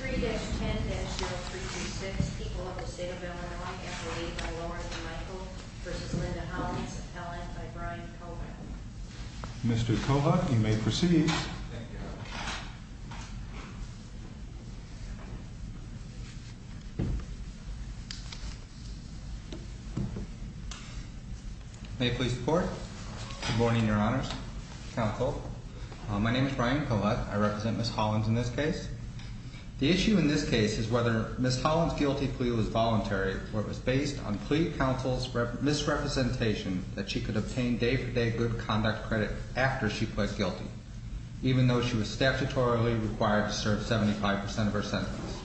3-10-0336 People of the State of Illinois S.O.A.T. by Lauren Michael v. Linda Hollins Appellant by Brian Collett Mr. Collett, you may proceed Thank you May it please the court Good morning, your honors Counsel, my name is Brian Collett I represent Ms. Hollins in this case The issue in this case is whether Ms. Hollins' guilty plea was voluntary or it was based on plea counsel's misrepresentation that she could obtain day-for-day good conduct credit after she pled guilty even though she was statutorily required to serve 75% of her sentence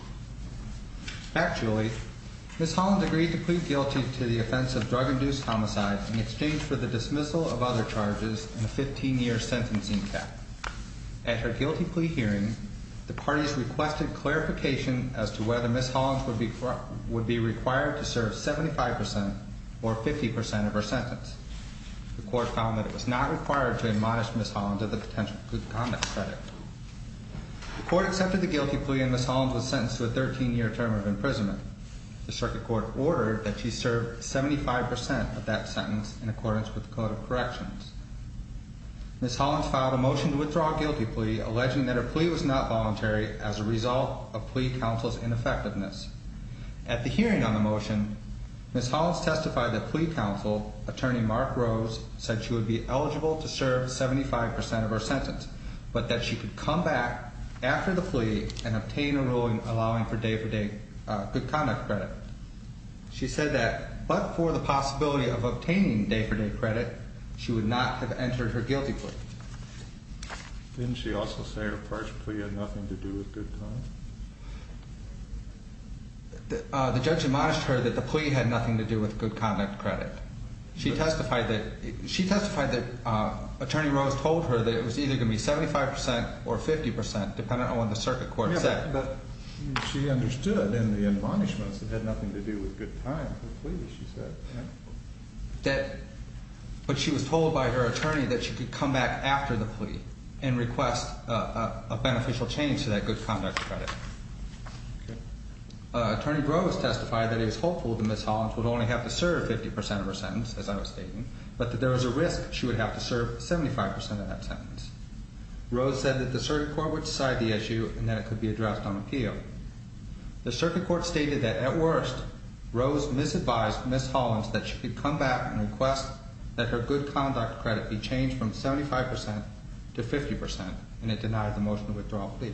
Actually Ms. Hollins agreed to plead guilty to the offense of drug-induced homicide in exchange for the dismissal of other charges and a 15-year sentencing cap At her guilty plea hearing the parties requested clarification as to whether Ms. Hollins would be required to serve 75% or 50% of her sentence The court found that it was not required to admonish Ms. Hollins of the potential good conduct credit The court accepted the guilty plea and Ms. Hollins was sentenced to a 13-year term of imprisonment. The circuit court ordered that she serve 75% of that sentence in accordance with the code of corrections Ms. Hollins filed a motion to withdraw a guilty plea alleging that her plea was not voluntary as a result of plea counsel's ineffectiveness At the hearing on the motion Ms. Hollins testified that plea counsel, attorney Mark Rose said she would be eligible to serve 75% of her sentence but that she could come back after the plea and obtain a ruling allowing for day-for-day good conduct credit She said that but for the possibility of obtaining day-for-day credit she would not have entered her guilty plea Didn't she also say her first plea had nothing to do with good conduct? The judge admonished her that the plea had nothing to do with good conduct credit She testified that she testified that attorney Rose told her that it was either going to be 75% or 50% depending on what the circuit court said She understood in the admonishments it had nothing to do with good time for the plea she said But she was told by her attorney that she could come back after the plea and request a beneficial change to that good conduct credit Attorney Rose testified that it was hopeful that Ms. Hollins would only have to serve 50% of her sentence as I was stating but that there was a risk she would have to serve 75% of that sentence Rose said that the circuit court would decide the issue and that it could be addressed on appeal The circuit court stated that at worst Rose misadvised Ms. Hollins that she could come back and request that her good conduct credit be changed from 75% to 50% and it denied the motion to withdraw the plea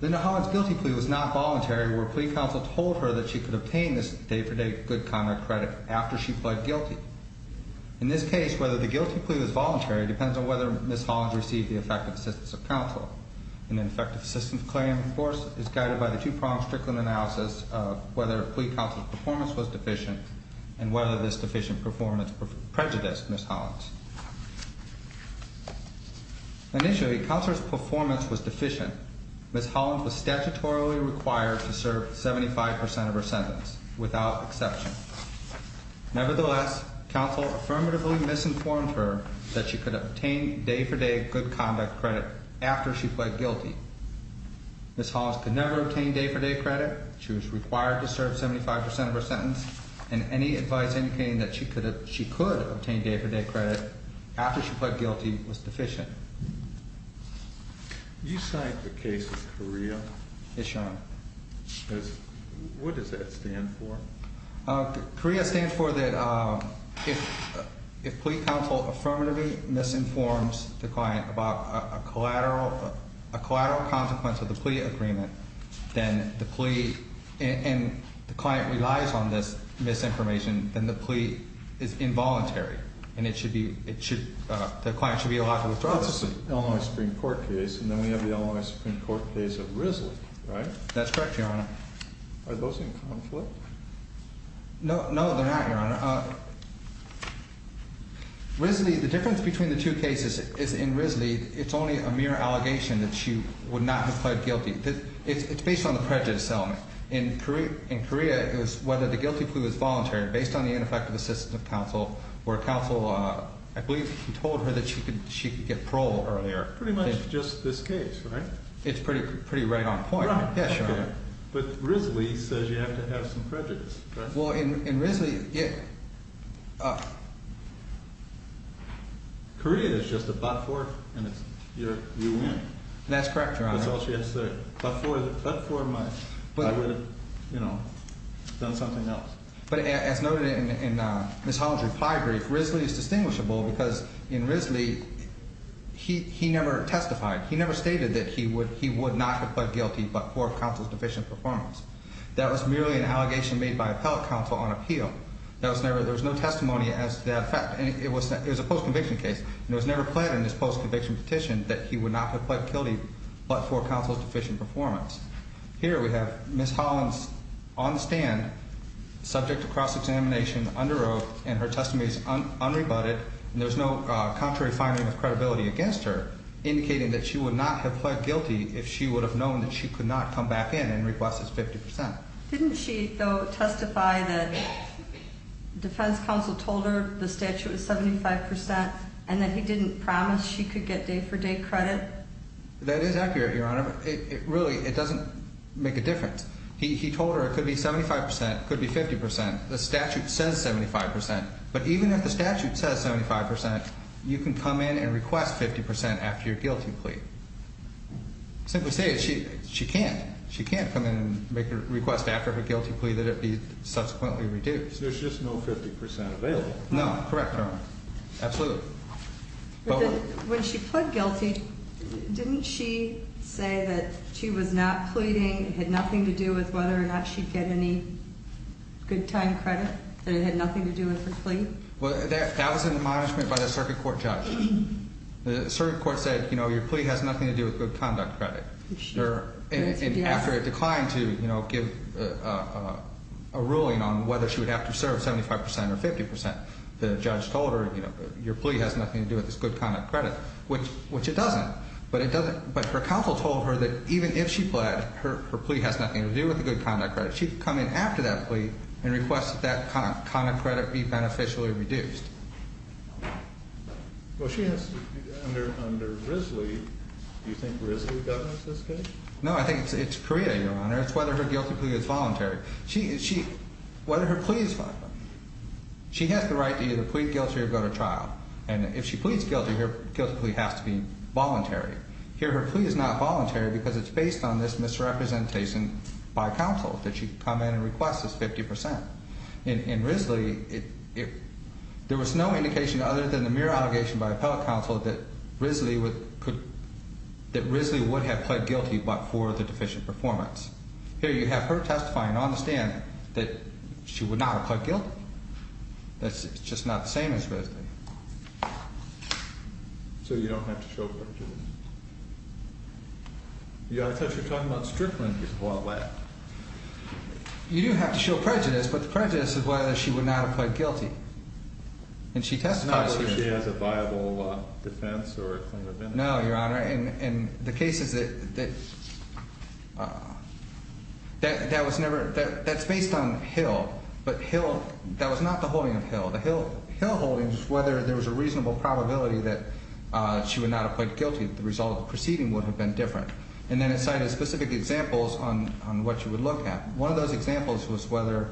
Then the Hollins guilty plea was not voluntary where plea counsel told her that she could obtain this day-for-day good conduct credit after she pled guilty In this case, whether the guilty plea was voluntary depends on whether Ms. Hollins received the effective assistance of counsel An effective assistance claim, of course, is guided by the two-pronged Strickland analysis of whether plea counsel's performance was deficient and whether this deficient performance prejudiced Ms. Hollins Initially, counsel's performance was deficient Ms. Hollins was statutorily required to serve 75% of her sentence without exception Nevertheless, counsel affirmatively misinformed her that she could obtain day-for-day good conduct credit after she pled guilty Ms. Hollins could never obtain day-for-day credit She was required to serve 75% of her sentence and any advice indicating that she could obtain day-for-day credit after she pled guilty was deficient You cite the case of Correa What does that stand for? Correa stands for that if plea counsel affirmatively misinforms the client about a collateral consequence of the plea agreement then the plea and the client relies on this misinformation, then the plea is involuntary and the client should be allowed to withdraw it That's the Illinois Supreme Court case and then we have the Illinois Supreme Court case of Risley, right? That's correct, Your Honor Are those in conflict? No, they're not, Your Honor Risley, the difference between the two cases is in Risley it's only a mere allegation that she would not have pled guilty It's based on the prejudice settlement In Correa, it was whether the guilty plea was voluntary based on the ineffective assistance of counsel where counsel, I believe told her that she could get parole earlier Pretty much just this case, right? It's pretty right on point But Risley says you have to have some prejudice Well, in Risley Correa is just a butt fork and you win That's all she has to say But as noted in Ms. Holland's reply brief, Risley is distinguishable because in Risley he never testified he never stated that he would not have pled guilty but for counsel's deficient performance That was merely an allegation made by appellate counsel on appeal There was no testimony as to that fact It was a post-conviction case and it was never pled in this post-conviction petition that he would not have pled guilty but for counsel's deficient performance Here we have Ms. Holland on the stand subject to cross-examination under oath and her testimony is unrebutted and there's no contrary finding of credibility against her indicating that she would not have pled guilty if she would have known that she could not come back in and request his 50% Didn't she, though, testify that defense counsel told her the statute was 75% and that he didn't promise she could get day-for-day credit? That is accurate, Your Honor Really, it doesn't make a difference He told her it could be 75%, it could be 50% The statute says 75% But even if the statute says 75% you can come in and request 50% after your guilty plea Simply say it She can't. She can't come in and request after her guilty plea that it be subsequently reduced There's just no 50% available No, correct, Your Honor Absolutely When she pled guilty didn't she say that she was not pleading it had nothing to do with whether or not she'd get any good time credit that it had nothing to do with her plea That was an admonishment by the circuit court judge The circuit court said your plea has nothing to do with good conduct credit and after it declined to give a ruling on whether she would have to serve 75% or 50% the judge told her your plea has nothing to do with this good conduct credit which it doesn't but her counsel told her that even if she pled, her plea has nothing to do with the good conduct credit. She'd come in after that plea and request that that conduct credit be beneficially reduced No, I think it's Priya, Your Honor It's whether her guilty plea is voluntary Whether her plea is voluntary She has the right to either plead guilty or go to trial and if she pleads guilty, her guilty plea has to be voluntary Here, her plea is not voluntary because it's based on this misrepresentation by counsel that she come in and request this 50% In Risley there was no indication other than the mere allegation by appellate counsel that Risley would have pled guilty but for the deficient performance Here, you have her testifying on the stand that she would not have pled guilty It's just not the same as Risley So you don't have to show prejudice Yeah, I thought you were talking about strickling people out loud You do have to show prejudice but the prejudice is whether she would not have pled guilty and she testified It's not like she has a viable defense or claim of innocence No, your honor That's based on Hill That was not the holding of Hill The Hill holding is whether there was a reasonable probability that she would not have pled guilty The result of the proceeding would have been different and then it cited specific examples on what you would look at One of those examples was whether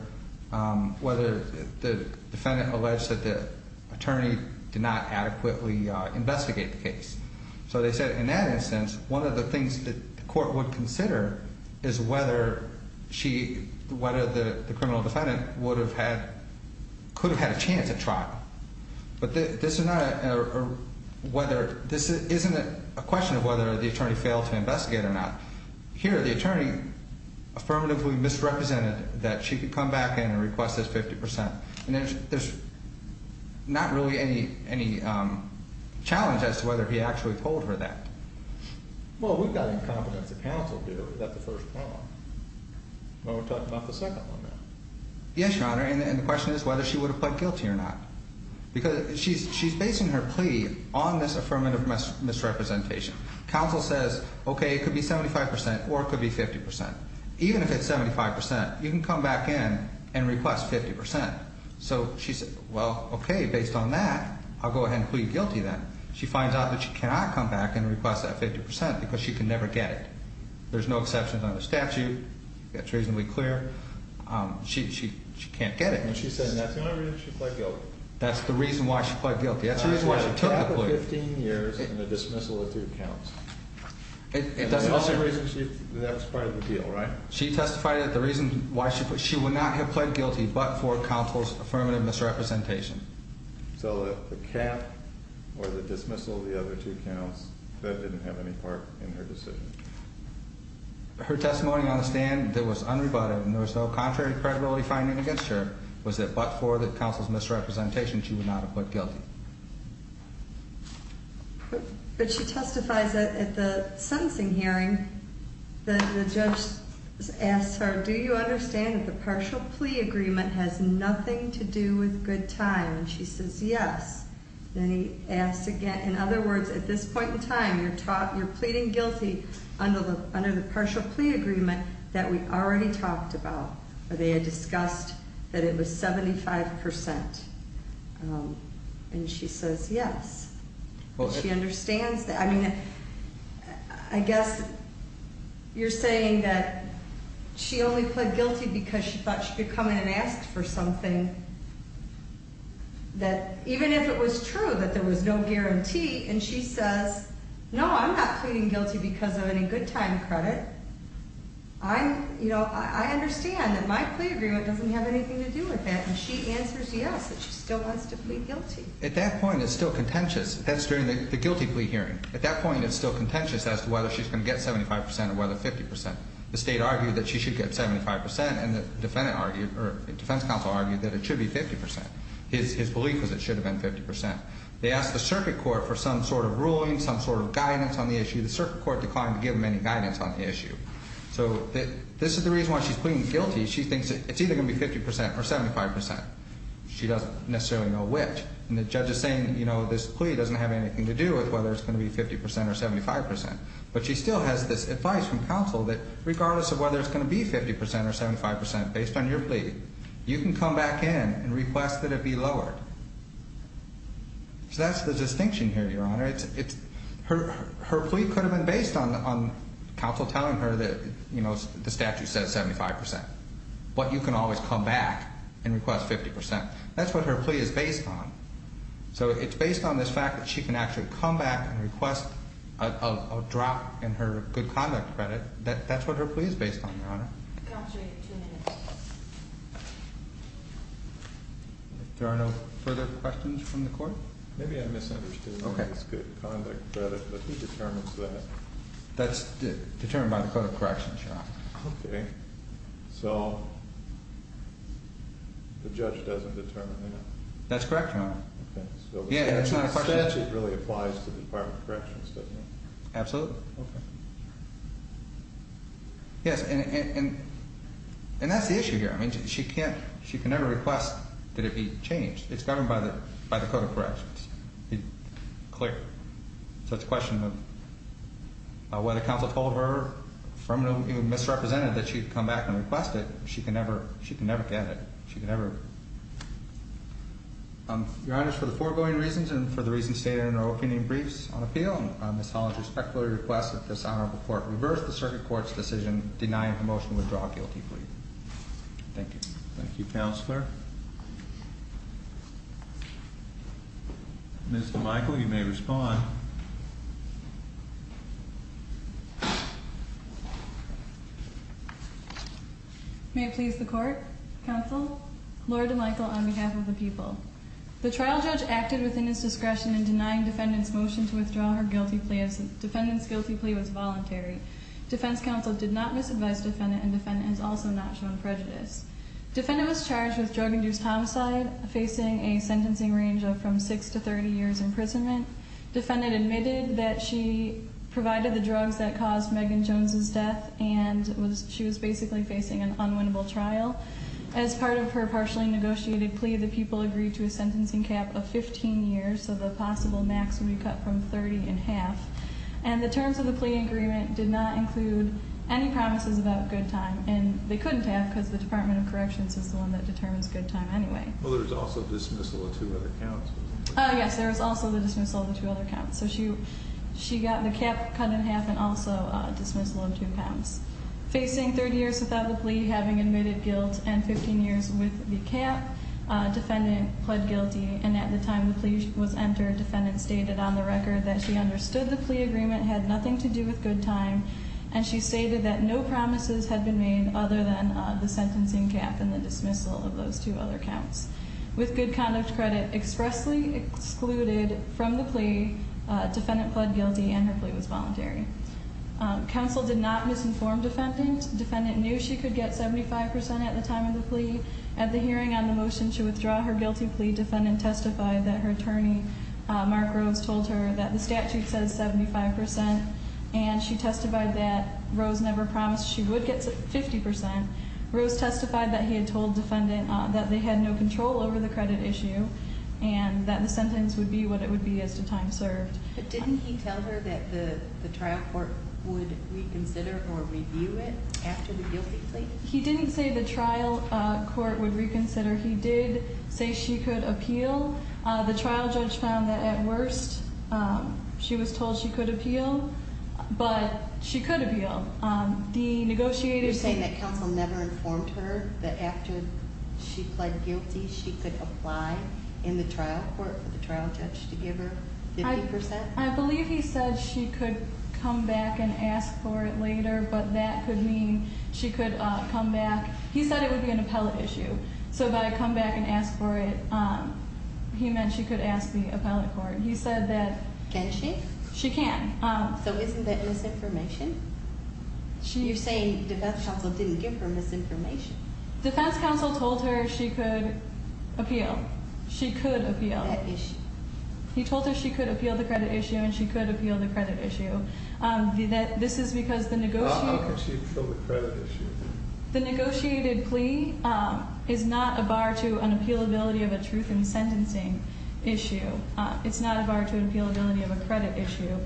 the defendant alleged that the attorney did not adequately investigate the case So they said in that instance one of the things the court would consider is whether the criminal defendant could have had a chance at trial This isn't a question of whether the attorney failed to investigate or not Here, the attorney affirmatively misrepresented that she could come back in and request this 50% There's not really any challenge as to whether he actually told her that Well, we've got incompetence of counsel to do that We're talking about the second one Yes, your honor, and the question is whether she would have pled guilty or not She's basing her plea on this affirmative misrepresentation Counsel says, okay, it could be 75% or it could be 50% Even if it's 75%, you can come back in and request 50% So she said, well, okay Based on that, I'll go ahead and plead guilty then She finds out that she cannot come back and request that 50% because she can never get it There's no exceptions on the statute It's reasonably clear She can't get it She said that's the only reason she pled guilty That's the reason why she pled guilty That's the reason why she took the plea 15 years and the dismissal of three counts That's part of the deal, right? She testified that the reason she would not have pled guilty but for counsel's affirmative misrepresentation So the cap or the dismissal of the other two counts that didn't have any part in her decision Her testimony on the stand that was unrebutted and there was no contrary credibility finding against her was that but for the counsel's misrepresentation she would not have pled guilty But she testifies that at the sentencing hearing that the judge asked her do you understand that the partial plea agreement has nothing to do with good time and she says yes then he asks again in other words at this point in time you're pleading guilty under the partial plea agreement that we already talked about that they had discussed that it was 75% and she says yes She understands that I mean I guess you're saying that she only pled guilty because she thought she could come in and ask for something that even if it was true that there was no guarantee and she says no I'm not pleading guilty because of any good time credit I understand that my plea agreement doesn't have anything to do with that and she answers yes that she still wants to plead guilty At that point it's still contentious That's during the guilty plea hearing At that point it's still contentious as to whether she's going to get 75% or whether 50% The state argued that she should get 75% and the defense counsel argued that it should be 50% His belief was that it should have been 50% They asked the circuit court for some sort of ruling some sort of guidance on the issue The circuit court declined to give them any guidance on the issue So this is the reason why she's pleading guilty She thinks it's either going to be 50% or 75% She doesn't necessarily know which and the judge is saying this plea doesn't have anything to do with whether it's going to be 50% or 75% But she still has this advice from counsel that regardless of whether it's going to be 50% or 75% based on your plea you can come back in and request that it be lowered So that's the distinction here Your Honor Her plea could have been based on counsel telling her that the statute says 75% but you can always come back and request 50% That's what her plea is based on So it's based on this fact that she can actually come back and request a drop in her good conduct credit That's what her plea is based on Your Honor There are no further questions from the court? Maybe I misunderstood the good conduct credit but he determines that That's determined by the code of corrections Okay So the judge doesn't determine that That's correct Your Honor The statute really applies to the department of corrections doesn't it? Absolutely Yes And that's the issue here She can never request that it be changed It's governed by the code of corrections Clear So it's a question of whether counsel told her misrepresented that she'd come back and request it She can never get it She can never Your Honor For the foregoing reasons and for the reasons stated in our opening briefs on appeal, Ms. Hollins respectfully requests that this honorable court reverse the circuit court's decision denying her motion to withdraw a guilty plea Thank you Mr. Michael you may respond May it please the court Counsel, Laura DeMichael on behalf of the people The trial judge acted within his discretion in denying defendant's motion to withdraw her guilty plea as defendant's guilty plea was voluntary Defense counsel did not misadvise defendant and defendant has also not shown prejudice Defendant was charged with drug induced homicide facing a sentencing range of from 6 to 30 years imprisonment. Defendant admitted that she provided the drugs that caused Megan Jones' death and she was basically facing an unwinnable trial. As part of her partially negotiated plea, the people agreed to a sentencing cap of 15 years so the possible max would be cut from 30 in half and the terms of the plea agreement did not include any promises about good time and they couldn't have because the Department of Corrections is the one that determines good time anyway Well there's also dismissal of two other counts Yes, there was also the dismissal of the two other counts She got the cap cut in half and also dismissal of two counts Facing 30 years without the plea, having admitted guilt and 15 years with the cap, defendant pled guilty and at the time the plea was entered, defendant stated on the record that she understood the plea agreement had nothing to do with good time and she stated that no promises had been made other than the sentencing cap and the dismissal of those two other counts With good conduct credit expressly excluded from the plea defendant pled guilty and her plea was voluntary Counsel did not misinform defendant Defendant knew she could get 75 percent at the time of the plea At the hearing on the motion to withdraw her guilty plea defendant testified that her attorney Mark Rose told her that the statute says 75 percent and she testified that Rose never promised she would get 50 percent Rose testified that he had told defendant that they had no control over the credit issue and that the sentence would be what it would be as to time served But didn't he tell her that the trial court would reconsider or review it after the guilty plea He didn't say the trial court would reconsider. He did say she could appeal The trial judge found that at worst she was told she could appeal but she could appeal The negotiator You're saying that counsel never informed her that after she pled guilty she could apply in the trial court for the trial judge to give her 50 percent I believe he said she could come back and ask for it later but that could mean she could come back He said it would be an appellate issue so by come back and ask for it he meant she could ask the appellate court. He said that Can she? She can So isn't that misinformation? You're saying defense counsel didn't give her misinformation Defense counsel told her she could appeal. She could appeal He told her she could appeal the credit issue and she could appeal the credit issue This is because How could she appeal the credit issue? The negotiated plea is not a bar to an appealability of a truth in sentencing issue. It's not a bar to an appealability of a credit issue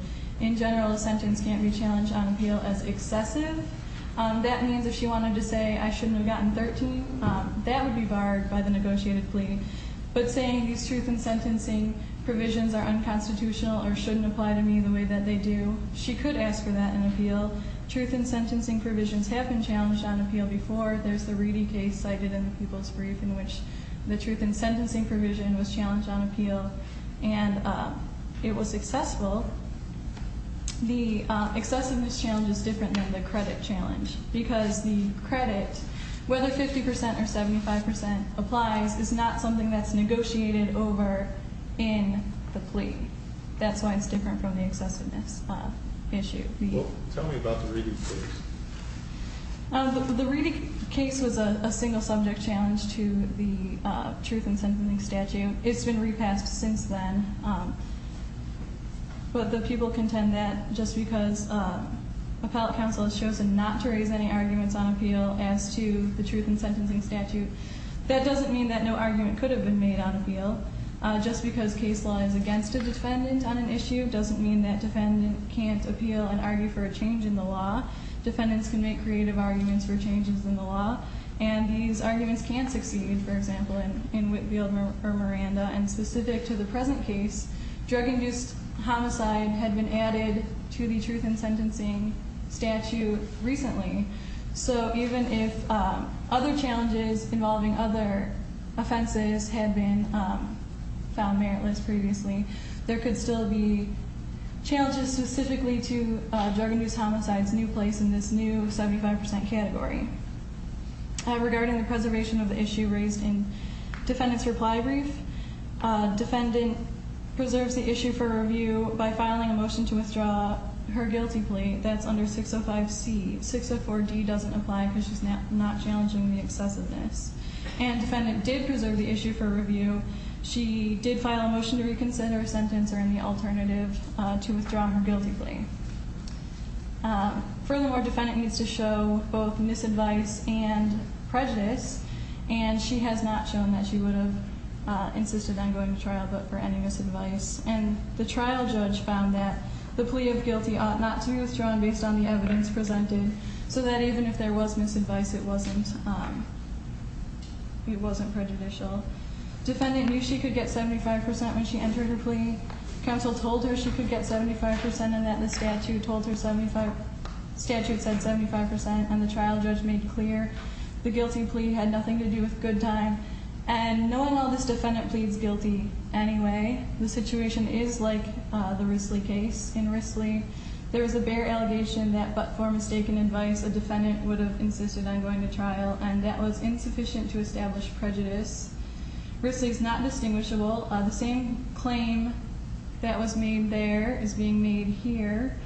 In general, a sentence can't be challenged on appeal as excessive That means if she wanted to say I shouldn't have gotten 13 that would be barred by the negotiated plea but saying these truth in sentencing provisions are unconstitutional or shouldn't apply to me the way that they do she could ask for that in appeal Truth in sentencing provisions have been challenged on appeal before. There's the Reedy case cited in the People's Brief in which the truth in sentencing provision was challenged on appeal and it was successful The excessiveness challenge is different than the credit challenge because the credit whether 50% or 75% applies is not something that's negotiated over in the plea. That's why it's different from the excessiveness issue Tell me about the Reedy case The Reedy case was a single subject challenge to the truth in sentencing statute. It's been repassed since then but the people contend that just because appellate counsel has chosen not to raise any arguments on appeal as to the truth in sentencing statute that doesn't mean that no argument could have been made on appeal. Just because case law is against a defendant on an issue doesn't mean that defendant can't appeal and argue for a change in the law Defendants can make creative arguments for changes in the law and these arguments can succeed for example in Whitfield v. Miranda and specific to the present case drug induced homicide had been added to the truth in sentencing statute recently so even if other challenges involving other offenses had been found meritless previously there could still be challenges specifically to drug induced homicide's new place in this new 75% category Regarding the preservation of the issue raised in defendant's reply brief defendant preserves the issue for review by filing a motion to withdraw her guilty plea that's under 605C 604D doesn't apply because she's not challenging the excessiveness and defendant did preserve the issue for review she did file a motion to reconsider her sentence or any alternative to withdraw her guilty plea furthermore defendant needs to show both misadvice and prejudice and she has not shown that she would have insisted on going to trial but for any misadvice and the trial judge found that the plea of guilty ought not to be withdrawn based on the evidence presented so that even if there was misadvice it wasn't it wasn't prejudicial defendant knew she could get 75% when she entered her plea. Counsel told her she could get 75% and that the statute told her 75% statute said 75% and the trial judge made clear the guilty plea had nothing to do with good time and knowing all this defendant pleads guilty anyway, the situation is like the Risley case in Risley there was a bare allegation that but for mistaken advice a defendant would have insisted on going to trial and that was insufficient to establish prejudice Risley is not distinguishable. The same claim that was made there is being made here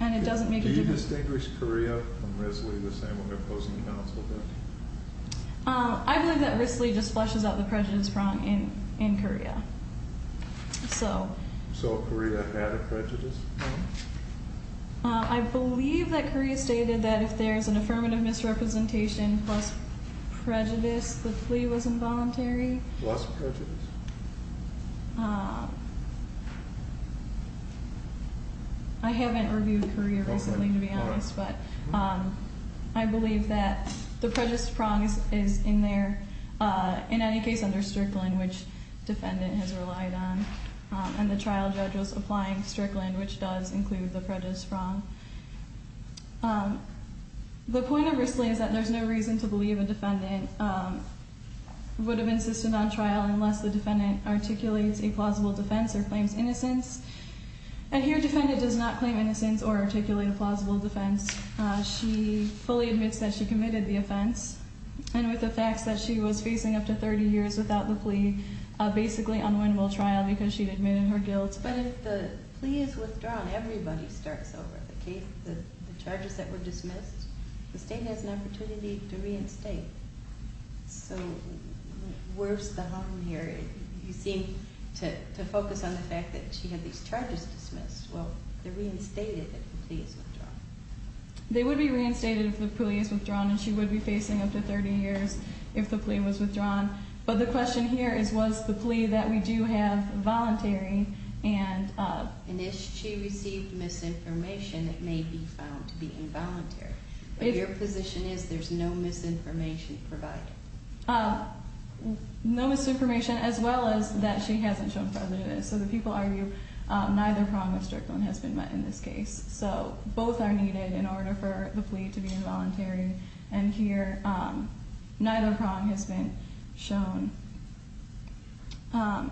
and it doesn't make a difference. Do you distinguish Korea from Risley the same when you're opposing counsel there? I believe that Risley just flushes out the prejudice wrong in Korea so Korea had a prejudice wrong? I believe that Korea stated that if there is an affirmative misrepresentation plus prejudice the plea was involuntary plus prejudice I haven't reviewed Korea recently to be honest but I believe that the prejudice prong is in there in any case under Strickland which defendant has relied on and the trial judge was applying Strickland which does include the prejudice prong the point of Risley is that there is no reason to believe a defendant would have insisted on trial unless the defendant articulates a plausible defense or claims innocence and here defendant does not claim innocence or articulate a plausible defense. She fully admits that she committed the offense and with the facts that she was facing up to 30 years without the plea basically unwinnable trial because she admitted her guilt. But if the plea is withdrawn, everybody starts over. The charges that were dismissed, the state has an opportunity to reinstate so worse the harm here. You seem to focus on the fact that she had these charges dismissed. Well they're reinstated if the plea is withdrawn They would be reinstated if the plea is withdrawn and she would be facing up to 30 years if the plea was withdrawn. But the question here is was the plea that we do have voluntary and if she received misinformation it may be found to be involuntary. Your position is there's no misinformation provided? No misinformation as well as that she hasn't shown prejudice. So the people argue neither prong of Strickland has been met in this case. So both are needed in order for the plea to be involuntary. And here neither prong has been shown. Um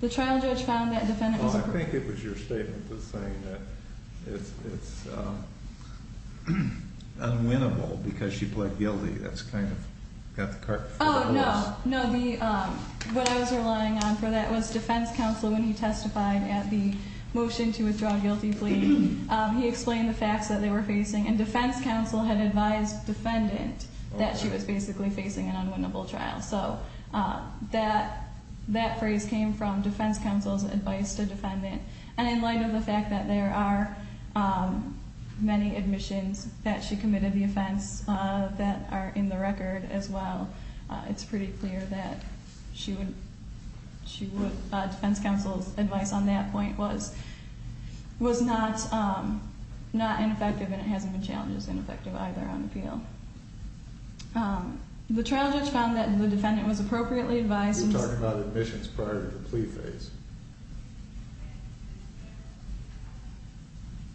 The trial judge found that defendant was- Well I think it was your statement that was saying that it's unwinnable because she pled guilty. That's kind of got the cart before the horse. Oh no. What I was relying on for that was defense counsel when he testified at the motion to withdraw guilty plea. He explained the facts that they were facing and defense counsel had advised defendant that she was basically facing an unwinnable trial. So that that phrase came from defense counsel's advice to defendant. And in light of the fact that there are many admissions that she committed the offense that are in the record as well it's pretty clear that she would defense counsel's advice on that point was not not ineffective and it hasn't been challenged as ineffective either on appeal. The trial judge found that the defendant was appropriately advised- You're talking about admissions prior to the plea phase.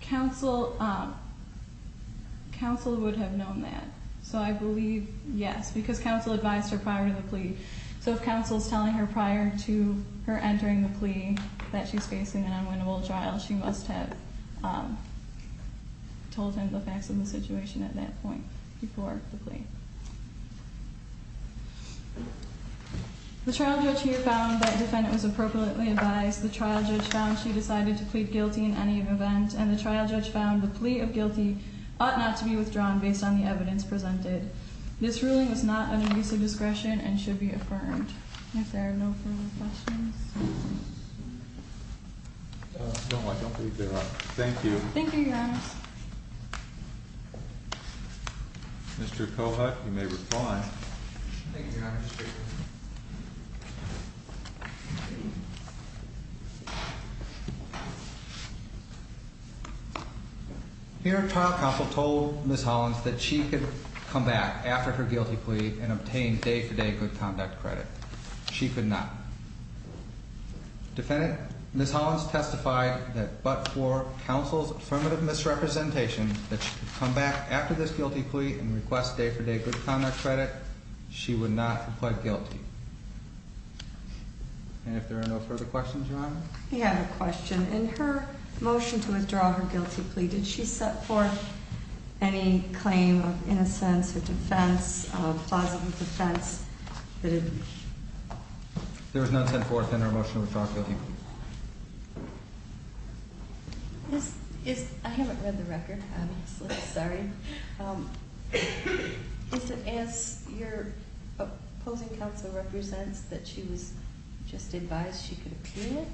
Counsel counsel would have known that. So I believe yes because counsel advised her prior to the plea. So if counsel's telling her prior to her entering the plea that she's facing an unwinnable trial she must have told him the facts of the situation at that point before the plea. The trial judge here found that defendant was appropriately advised. The trial judge found she decided to plead guilty in any event and the trial judge found the plea of guilty ought not to be withdrawn based on the evidence presented. This ruling was not under use of discretion and should be reviewed. Any questions? No, I don't believe there are. Thank you. Thank you, Your Honor. Mr. Kohut, you may reply. Thank you, Your Honor. Your trial counsel told Ms. Hollins that she could come back after her guilty plea and obtain day-for-day good conduct credit. She could not. Defendant, Ms. Hollins testified that but for counsel's affirmative misrepresentation that she could come back after this guilty plea and request day-for-day good conduct credit she would not have pled guilty. And if there are no further questions, Your Honor? We have a question. In her motion to withdraw her guilty plea, did she set forth any claim of innocence or defense of plausible defense? There was none sent forth in her motion to withdraw guilty plea. I haven't read the record. Sorry. Does it ask your opposing counsel represents that she was just advised she could appeal it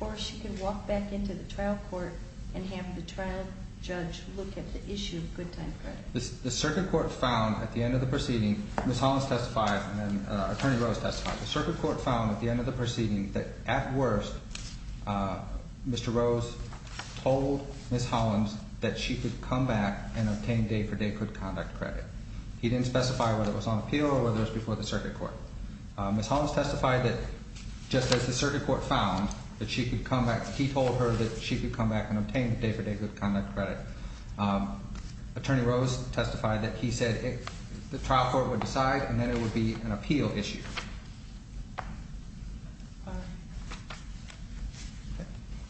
or she could walk back into the trial court and have the trial judge look at the issue of good time credit? The circuit court found at the end of the proceeding Ms. Hollins testified and Attorney Rose testified. The circuit court found at the end of the proceeding that at worst Mr. Rose told Ms. Hollins that she could come back and obtain day-for-day good conduct credit. He didn't specify whether it was on appeal or whether it was before the circuit court. Ms. Hollins testified that just as the circuit court found that she could come back he told her that she could come back and obtain day-for-day good conduct credit Attorney Rose testified that he said the trial court would decide and then it would be an appeal issue.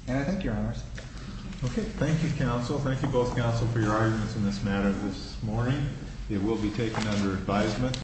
And I thank your honors. Thank you counsel. Thank you both counsel for your arguments in this matter this morning. It will be taken under advisement.